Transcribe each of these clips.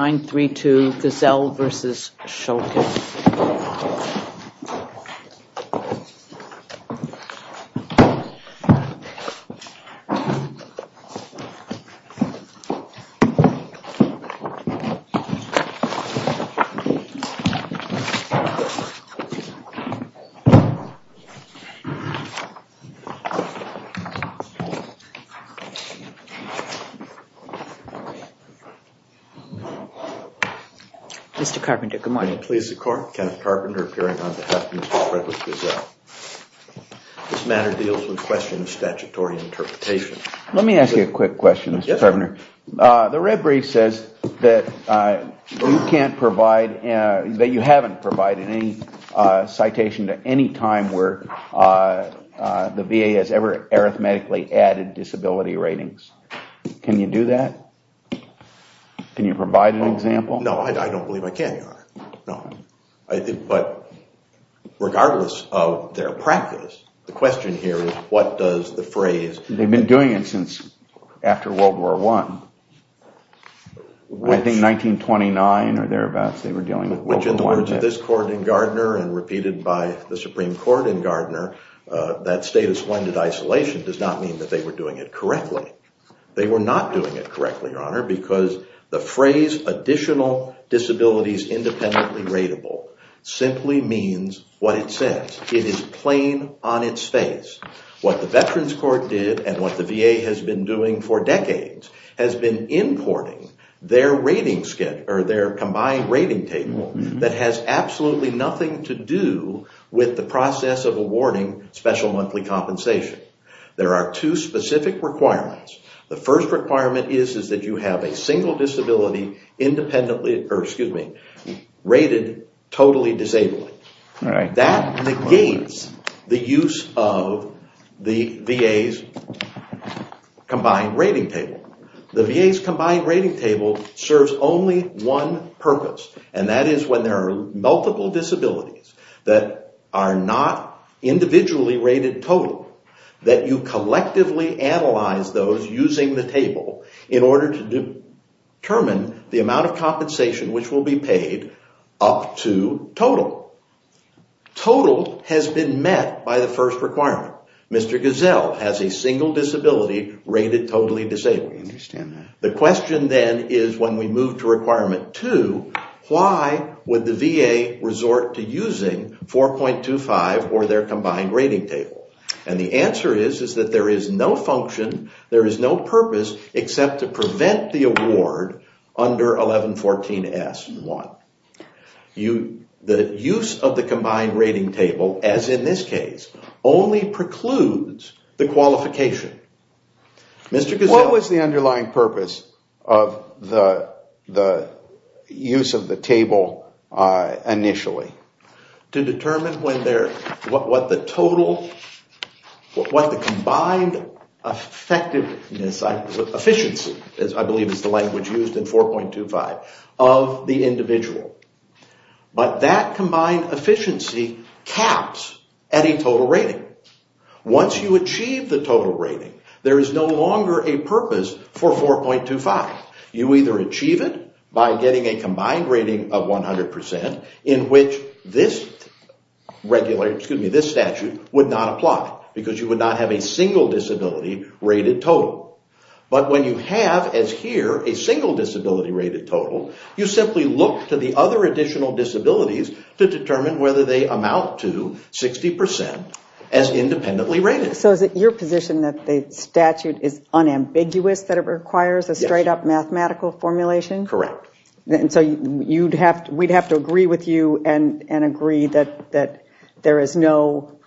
9-3-2 Gazelle versus Schultes. Mr. Carpenter, good morning. Good morning. Please, the Court. Kenneth Carpenter, appearing on behalf of Ms. Margaret Gazelle. This matter deals with the question of statutory interpretation. Let me ask you a quick question, Mr. Carpenter. Yes, sir. The red brief says that you can't provide, that you haven't provided any citation at any time where the VA has ever arithmetically added disability ratings. Can you do that? Can you provide an example? No, I don't believe I can, Your Honor. No. But regardless of their practice, the question here is what does the phrase… They've been doing it since after World War I. I think 1929 or thereabouts they were dealing with World War I. Which, in the words of this court in Gardner and repeated by the Supreme Court in Gardner, that status when did isolation does not mean that they were doing it correctly. They were not doing it correctly, Your Honor, because the phrase additional disabilities independently ratable simply means what it says. It is plain on its face. What the Veterans Court did and what the VA has been doing for decades has been importing their rating schedule or their combined rating table that has absolutely nothing to do with the process of awarding special monthly compensation. There are two specific requirements. The first requirement is that you have a single disability independently or, excuse me, rated totally disabled. That negates the use of the VA's combined rating table. The VA's combined rating table serves only one purpose, and that is when there are multiple disabilities that are not individually rated totally that you collectively analyze those using the table in order to determine the amount of compensation which will be paid up to total. Total has been met by the first requirement. Mr. Gazelle has a single disability rated totally disabled. The question then is when we move to requirement two, why would the VA resort to using 4.25 or their combined rating table? And the answer is that there is no function, there is no purpose except to prevent the award under 1114S and 1. The use of the combined rating table, as in this case, only precludes the qualification. Mr. Gazelle. What was the underlying purpose of the use of the table initially? To determine what the combined efficiency, I believe is the language used in 4.25, of the individual. But that combined efficiency caps any total rating. Once you achieve the total rating, there is no longer a purpose for 4.25. You either achieve it by getting a combined rating of 100% in which this statute would not apply because you would not have a single disability rated total. But when you have, as here, a single disability rated total, you simply look to the other additional disabilities to determine whether they amount to 60% as independently rated. So is it your position that the statute is unambiguous, that it requires a straight-up mathematical formulation? Correct. So we would have to agree with you and agree that there is no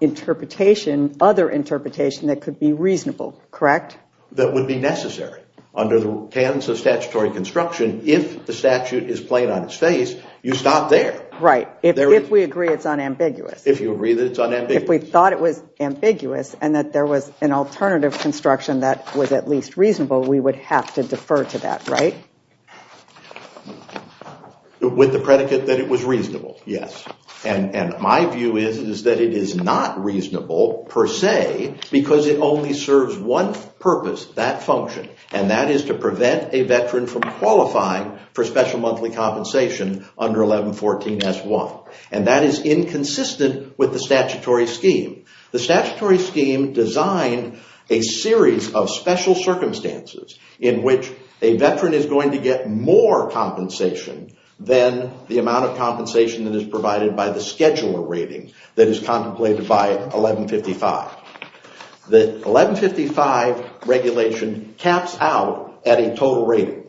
interpretation, other interpretation, that could be reasonable, correct? That would be necessary. Under the canons of statutory construction, if the statute is plain on its face, you stop there. Right. If we agree it is unambiguous. If you agree that it is unambiguous. If we thought it was ambiguous and that there was an alternative construction that was at least reasonable, we would have to defer to that, right? With the predicate that it was reasonable, yes. And my view is that it is not reasonable, per se, because it only serves one purpose, that function. And that is to prevent a veteran from qualifying for special monthly compensation under 1114S1. And that is inconsistent with the statutory scheme. The statutory scheme designed a series of special circumstances in which a veteran is going to get more compensation than the amount of compensation that is provided by the scheduler rating that is contemplated by 1155. The 1155 regulation caps out at a total rating.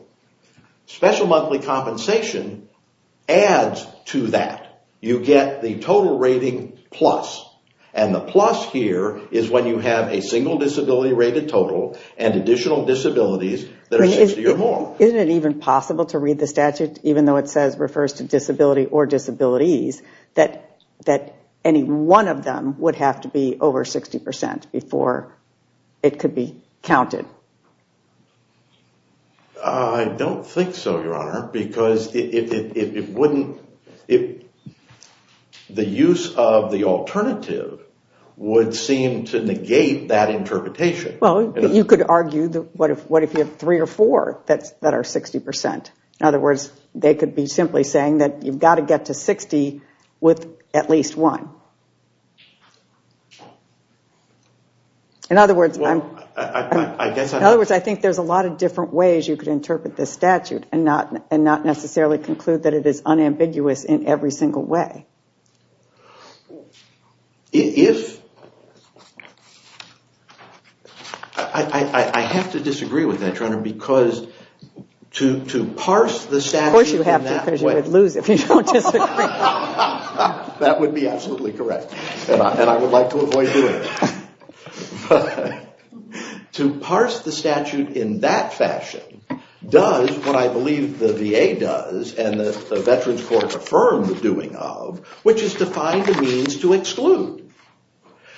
Special monthly compensation adds to that. You get the total rating plus. And the plus here is when you have a single disability rated total and additional disabilities that are 60 or more. Isn't it even possible to read the statute, even though it refers to disability or disabilities, that any one of them would have to be over 60% before it could be counted? I don't think so, Your Honor, because the use of the alternative would seem to negate that interpretation. Well, you could argue, what if you have three or four that are 60%? In other words, they could be simply saying that you've got to get to 60 with at least one. In other words, I think there's a lot of different ways you could interpret this statute and not necessarily conclude that it is unambiguous in every single way. I have to disagree with that, Your Honor, because to parse the statute in that way. Of course you have to, because you would lose if you don't disagree. That would be absolutely correct, and I would like to avoid doing it. To parse the statute in that fashion does what I believe the VA does and the Veterans Court affirms the doing of, which is to find the means to exclude.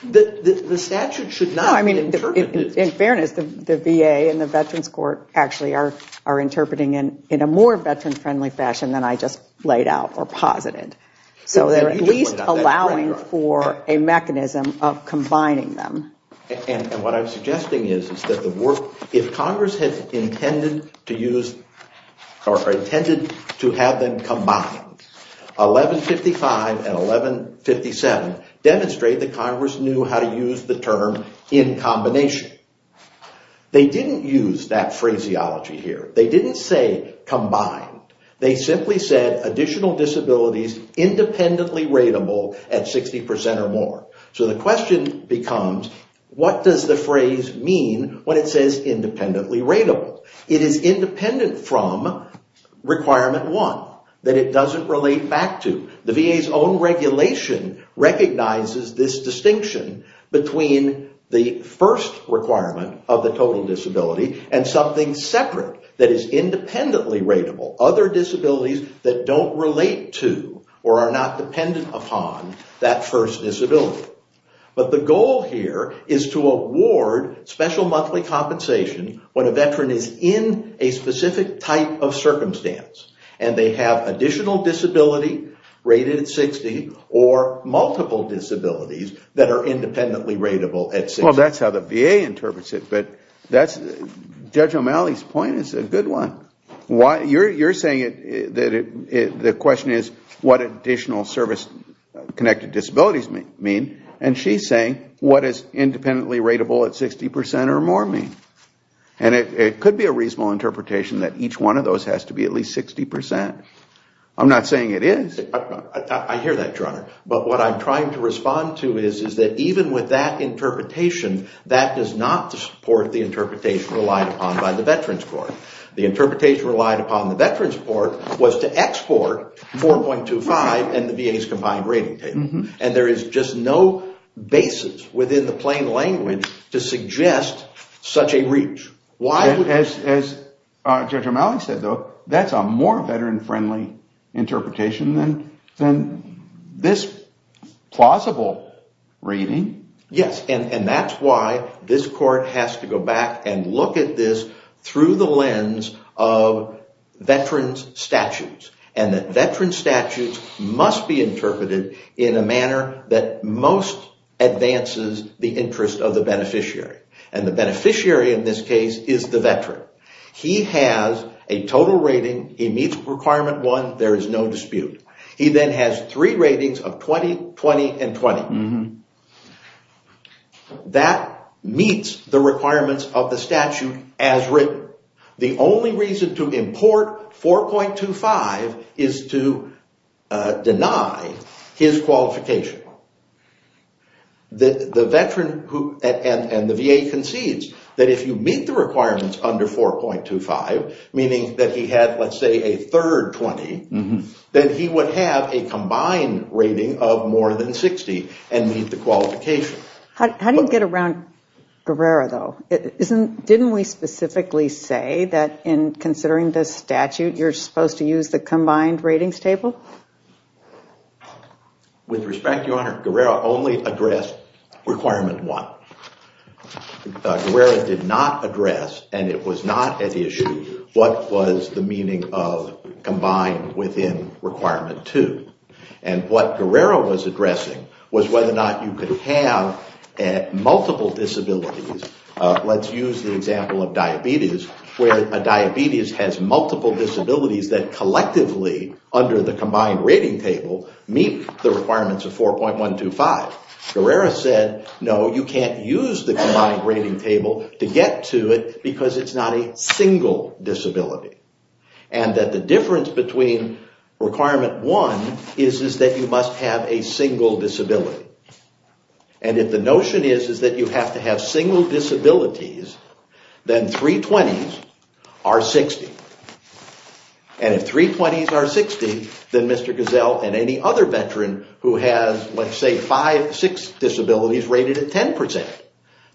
The statute should not be interpreted. In fairness, the VA and the Veterans Court actually are interpreting in a more veteran-friendly fashion than I just laid out or posited. So they're at least allowing for a mechanism of combining them. What I'm suggesting is that if Congress had intended to have them combined, 1155 and 1157 demonstrate that Congress knew how to use the term in combination. They didn't use that phraseology here. They didn't say combined. They simply said additional disabilities independently ratable at 60% or more. So the question becomes, what does the phrase mean when it says independently ratable? It is independent from Requirement 1 that it doesn't relate back to. The VA's own regulation recognizes this distinction between the first requirement of the total disability and something separate that is independently ratable. Other disabilities that don't relate to or are not dependent upon that first disability. But the goal here is to award special monthly compensation when a veteran is in a specific type of circumstance. And they have additional disability rated at 60 or multiple disabilities that are independently ratable at 60. Well, that's how the VA interprets it. Judge O'Malley's point is a good one. You're saying that the question is what additional service-connected disabilities mean. And she's saying what is independently ratable at 60% or more mean. And it could be a reasonable interpretation that each one of those has to be at least 60%. I'm not saying it is. I hear that, Your Honor. But what I'm trying to respond to is that even with that interpretation, that does not support the interpretation relied upon by the Veterans Court. The interpretation relied upon the Veterans Court was to export 4.25 and the VA's combined rating table. And there is just no basis within the plain language to suggest such a reach. As Judge O'Malley said, though, that's a more veteran-friendly interpretation than this plausible reading. Yes, and that's why this court has to go back and look at this through the lens of veterans' statutes. And that veterans' statutes must be interpreted in a manner that most advances the interest of the beneficiary. And the beneficiary in this case is the veteran. He has a total rating. He meets Requirement 1. There is no dispute. He then has three ratings of 20, 20, and 20. That meets the requirements of the statute as written. The only reason to import 4.25 is to deny his qualification. The veteran and the VA concedes that if you meet the requirements under 4.25, meaning that he had, let's say, a third 20, then he would have a combined rating of more than 60 and meet the qualification. How do you get around Guerrero, though? Didn't we specifically say that in considering this statute, you're supposed to use the combined ratings table? With respect, Your Honor, Guerrero only addressed Requirement 1. Guerrero did not address, and it was not at issue, what was the meaning of combined within Requirement 2. And what Guerrero was addressing was whether or not you could have multiple disabilities. Let's use the example of diabetes, where a diabetes has multiple disabilities that collectively, under the combined rating table, meet the requirements of 4.125. Guerrero said, no, you can't use the combined rating table to get to it because it's not a single disability. And that the difference between Requirement 1 is that you must have a single disability. And if the notion is that you have to have single disabilities, then three 20s are 60. And if three 20s are 60, then Mr. Gazelle and any other veteran who has, let's say, five, six disabilities rated at 10 percent,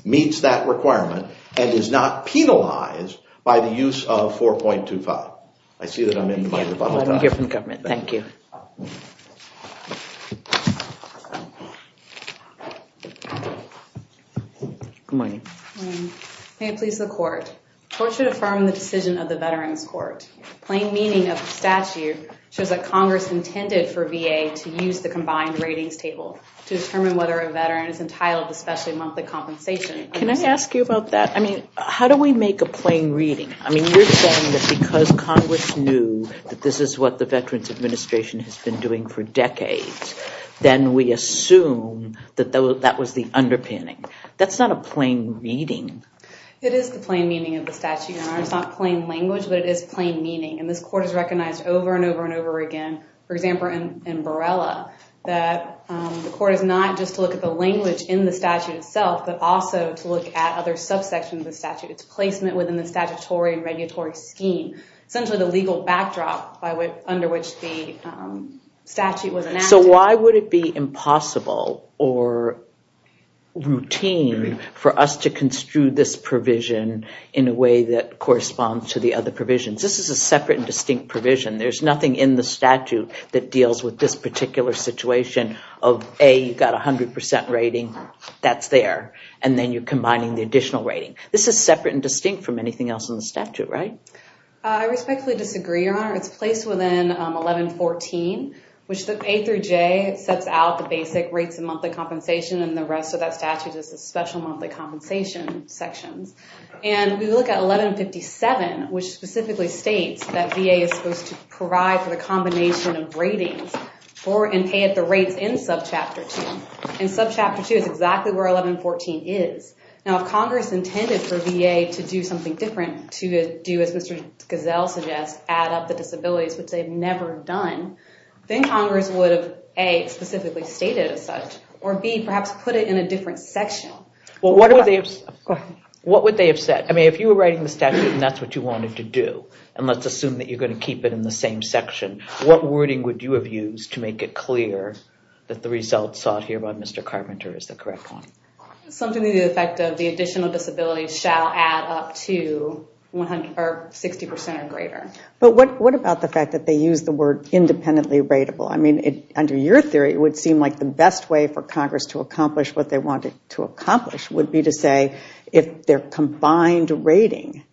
meets that requirement and is not penalized by the use of 4.25. I see that I'm in the bottom. Thank you. Good morning. May it please the court. Court should affirm the decision of the Veterans Court. Plain meaning of the statute shows that Congress intended for VA to use the combined ratings table to determine whether a veteran is entitled to specially monthly compensation. Can I ask you about that? I mean, how do we make a plain reading? I mean, you're saying that because Congress knew that this is what the Veterans Administration has been doing for decades, then we assume that that was the underpinning. That's not a plain reading. It is the plain meaning of the statute. It's not plain language, but it is plain meaning. And this court has recognized over and over and over again, for example, in Borrella, that the court is not just to look at the language in the statute itself, but also to look at other subsections of the statute. It's placement within the statutory and regulatory scheme, essentially the legal backdrop under which the statute was enacted. So why would it be impossible or routine for us to construe this provision in a way that corresponds to the other provisions? This is a separate and distinct provision. There's nothing in the statute that deals with this particular situation of, A, you've got a 100% rating, that's there, and then you're combining the additional rating. This is separate and distinct from anything else in the statute, right? I respectfully disagree, Your Honor. It's placed within 1114, which the A through J sets out the basic rates and monthly compensation, and the rest of that statute is the special monthly compensation sections. And we look at 1157, which specifically states that VA is supposed to provide for the combination of ratings and pay at the rates in subchapter 2. And subchapter 2 is exactly where 1114 is. Now, if Congress intended for VA to do something different, to do as Mr. Gazelle suggests, add up the disabilities, which they've never done, then Congress would have, A, specifically stated as such, or B, perhaps put it in a different section. Well, what would they have said? I mean, if you were writing the statute and that's what you wanted to do, and let's assume that you're going to keep it in the same section, what wording would you have used to make it clear that the results sought here by Mr. Carpenter is the correct one? Something to the effect of the additional disabilities shall add up to 60% or greater. But what about the fact that they used the word independently rateable? I mean, under your theory, it would seem like the best way for Congress to accomplish what they wanted to accomplish would be to say if their combined rating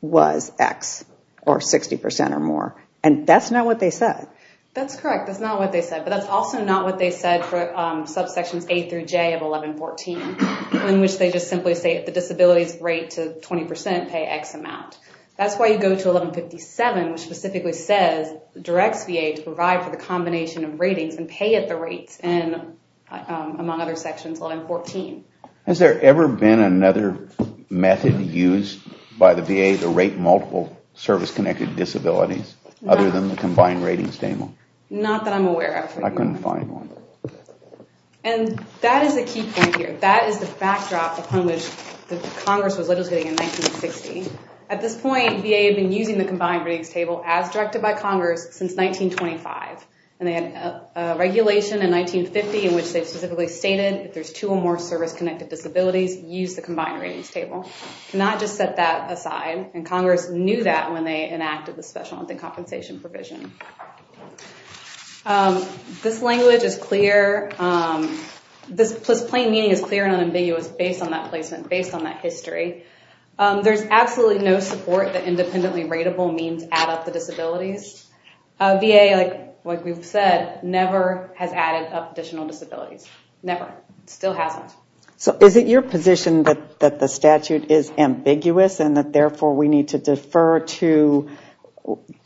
was X or 60% or more, and that's not what they said. That's correct. That's not what they said. But that's also not what they said for subsections A through J of 1114, in which they just simply say the disabilities rate to 20% pay X amount. That's why you go to 1157, which specifically says, directs VA to provide for the combination of ratings and pay at the rates, among other sections, 1114. Has there ever been another method used by the VA to rate multiple service-connected disabilities, other than the combined ratings? Not that I'm aware of. I couldn't find one. And that is a key point here. That is the backdrop upon which Congress was legislating in 1960. At this point, VA had been using the combined ratings table as directed by Congress since 1925. And they had a regulation in 1950 in which they specifically stated if there's two or more service-connected disabilities, use the combined ratings table. Not just set that aside. And Congress knew that when they enacted the special compensation provision. This language is clear. This plain meaning is clear and unambiguous based on that placement, based on that history. There's absolutely no support that independently rateable means add up the disabilities. VA, like we've said, never has added up additional disabilities. Never. Still hasn't. So is it your position that the statute is ambiguous and that therefore we need to defer to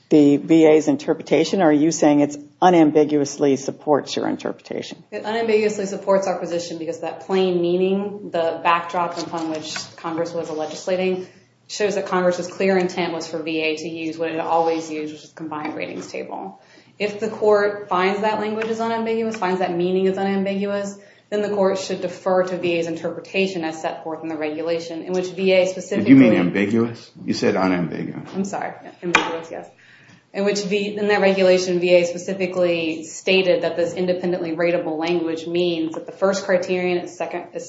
the VA's interpretation? Or are you saying it unambiguously supports your interpretation? It unambiguously supports our position because that plain meaning, the backdrop upon which Congress was legislating, shows that Congress's clear intent was for VA to use what it always used, which is the combined ratings table. If the court finds that language is unambiguous, finds that meaning is unambiguous, then the court should defer to VA's interpretation as set forth in the You said unambiguous. I'm sorry. In that regulation, VA specifically stated that this independently rateable language means that the first criterion is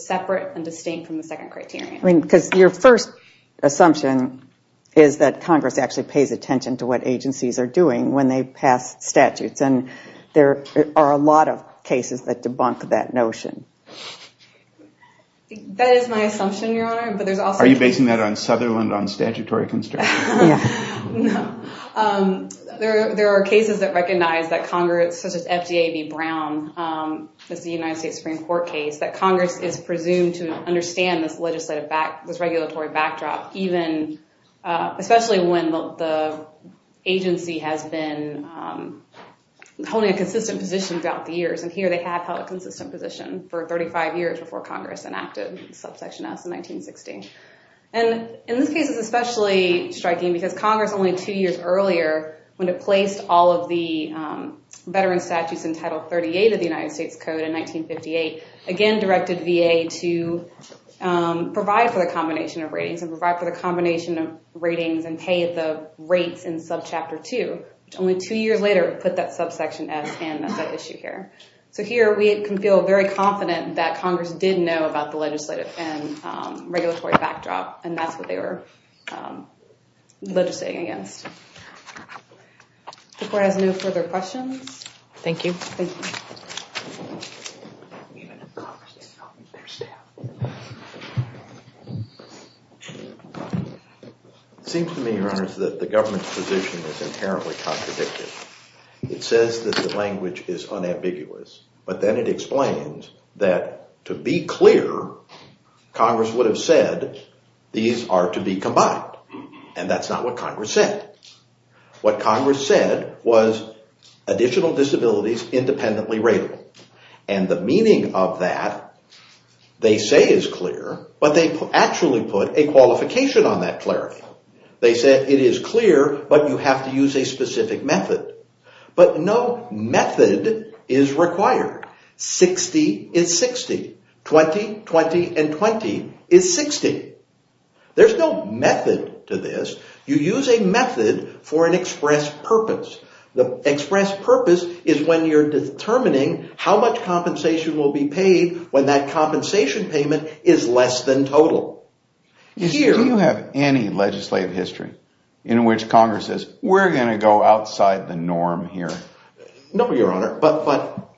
separate and distinct from the second criterion. Because your first assumption is that Congress actually pays attention to what agencies are doing when they pass statutes. And there are a lot of cases that debunk that notion. That is my assumption, Your Honor. Are you basing that on Sutherland, on statutory construction? No. There are cases that recognize that Congress, such as FDA v. Brown, the United States Supreme Court case, that Congress is presumed to understand this regulatory backdrop, especially when the agency has been holding a consistent position throughout the years. And here they have held a consistent position for 35 years before Congress enacted Subsection S in 1960. And in this case, it's especially striking because Congress, only two years earlier, when it placed all of the veteran statutes in Title 38 of the United States Code in 1958, again directed VA to provide for the combination of ratings and provide for the combination of ratings and pay the rates in Subchapter 2, which only two years later put that Subsection S in as an issue here. So here we can feel very confident that Congress did know about the legislative and regulatory backdrop, and that's what they were legislating against. The Court has no further questions. Thank you. Thank you. It seems to me, Your Honor, that the government's position is inherently contradicted. It says that the language is unambiguous, but then it explains that, to be clear, Congress would have said these are to be combined, and that's not what Congress said. What Congress said was additional disabilities independently ratable. And the meaning of that, they say is clear, but they actually put a qualification on that clarity. They said it is clear, but you have to use a specific method. But no method is required. Sixty is sixty. Twenty, twenty, and twenty is sixty. There's no method to this. You use a method for an express purpose. The express purpose is when you're determining how much compensation will be paid when that compensation payment is less than total. Do you have any legislative history in which Congress says, we're going to go outside the norm here? No, Your Honor, but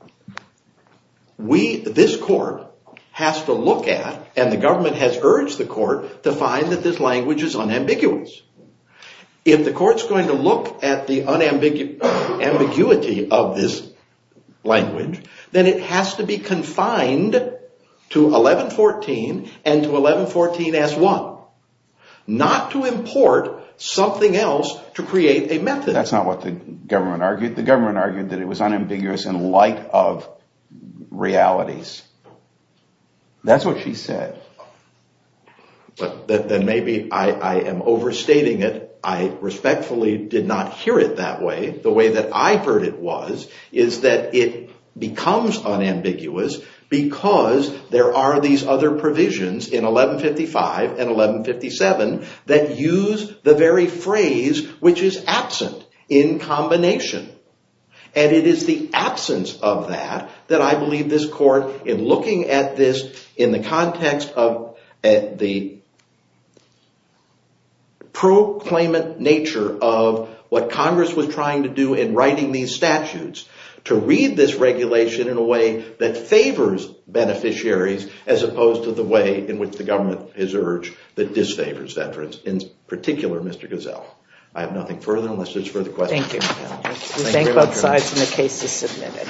this Court has to look at, and the government has urged the Court to find that this language is unambiguous. If the Court's going to look at the ambiguity of this language, then it has to be confined to 1114 and to 1114S1, not to import something else to create a method. That's not what the government argued. The government argued that it was unambiguous in light of realities. That's what she said. Then maybe I am overstating it. I respectfully did not hear it that way. The way that I heard it was is that it becomes unambiguous because there are these other provisions in 1155 and 1157 that use the very phrase which is absent in combination. And it is the absence of that that I believe this Court, in looking at this in the context of the proclaimant nature of what Congress was trying to do in writing these statutes, to read this regulation in a way that favors beneficiaries as opposed to the way in which the government has urged that disfavors veterans. In particular, Mr. Gozell, I have nothing further unless there's further questions. Thank you. We thank both sides and the case is submitted.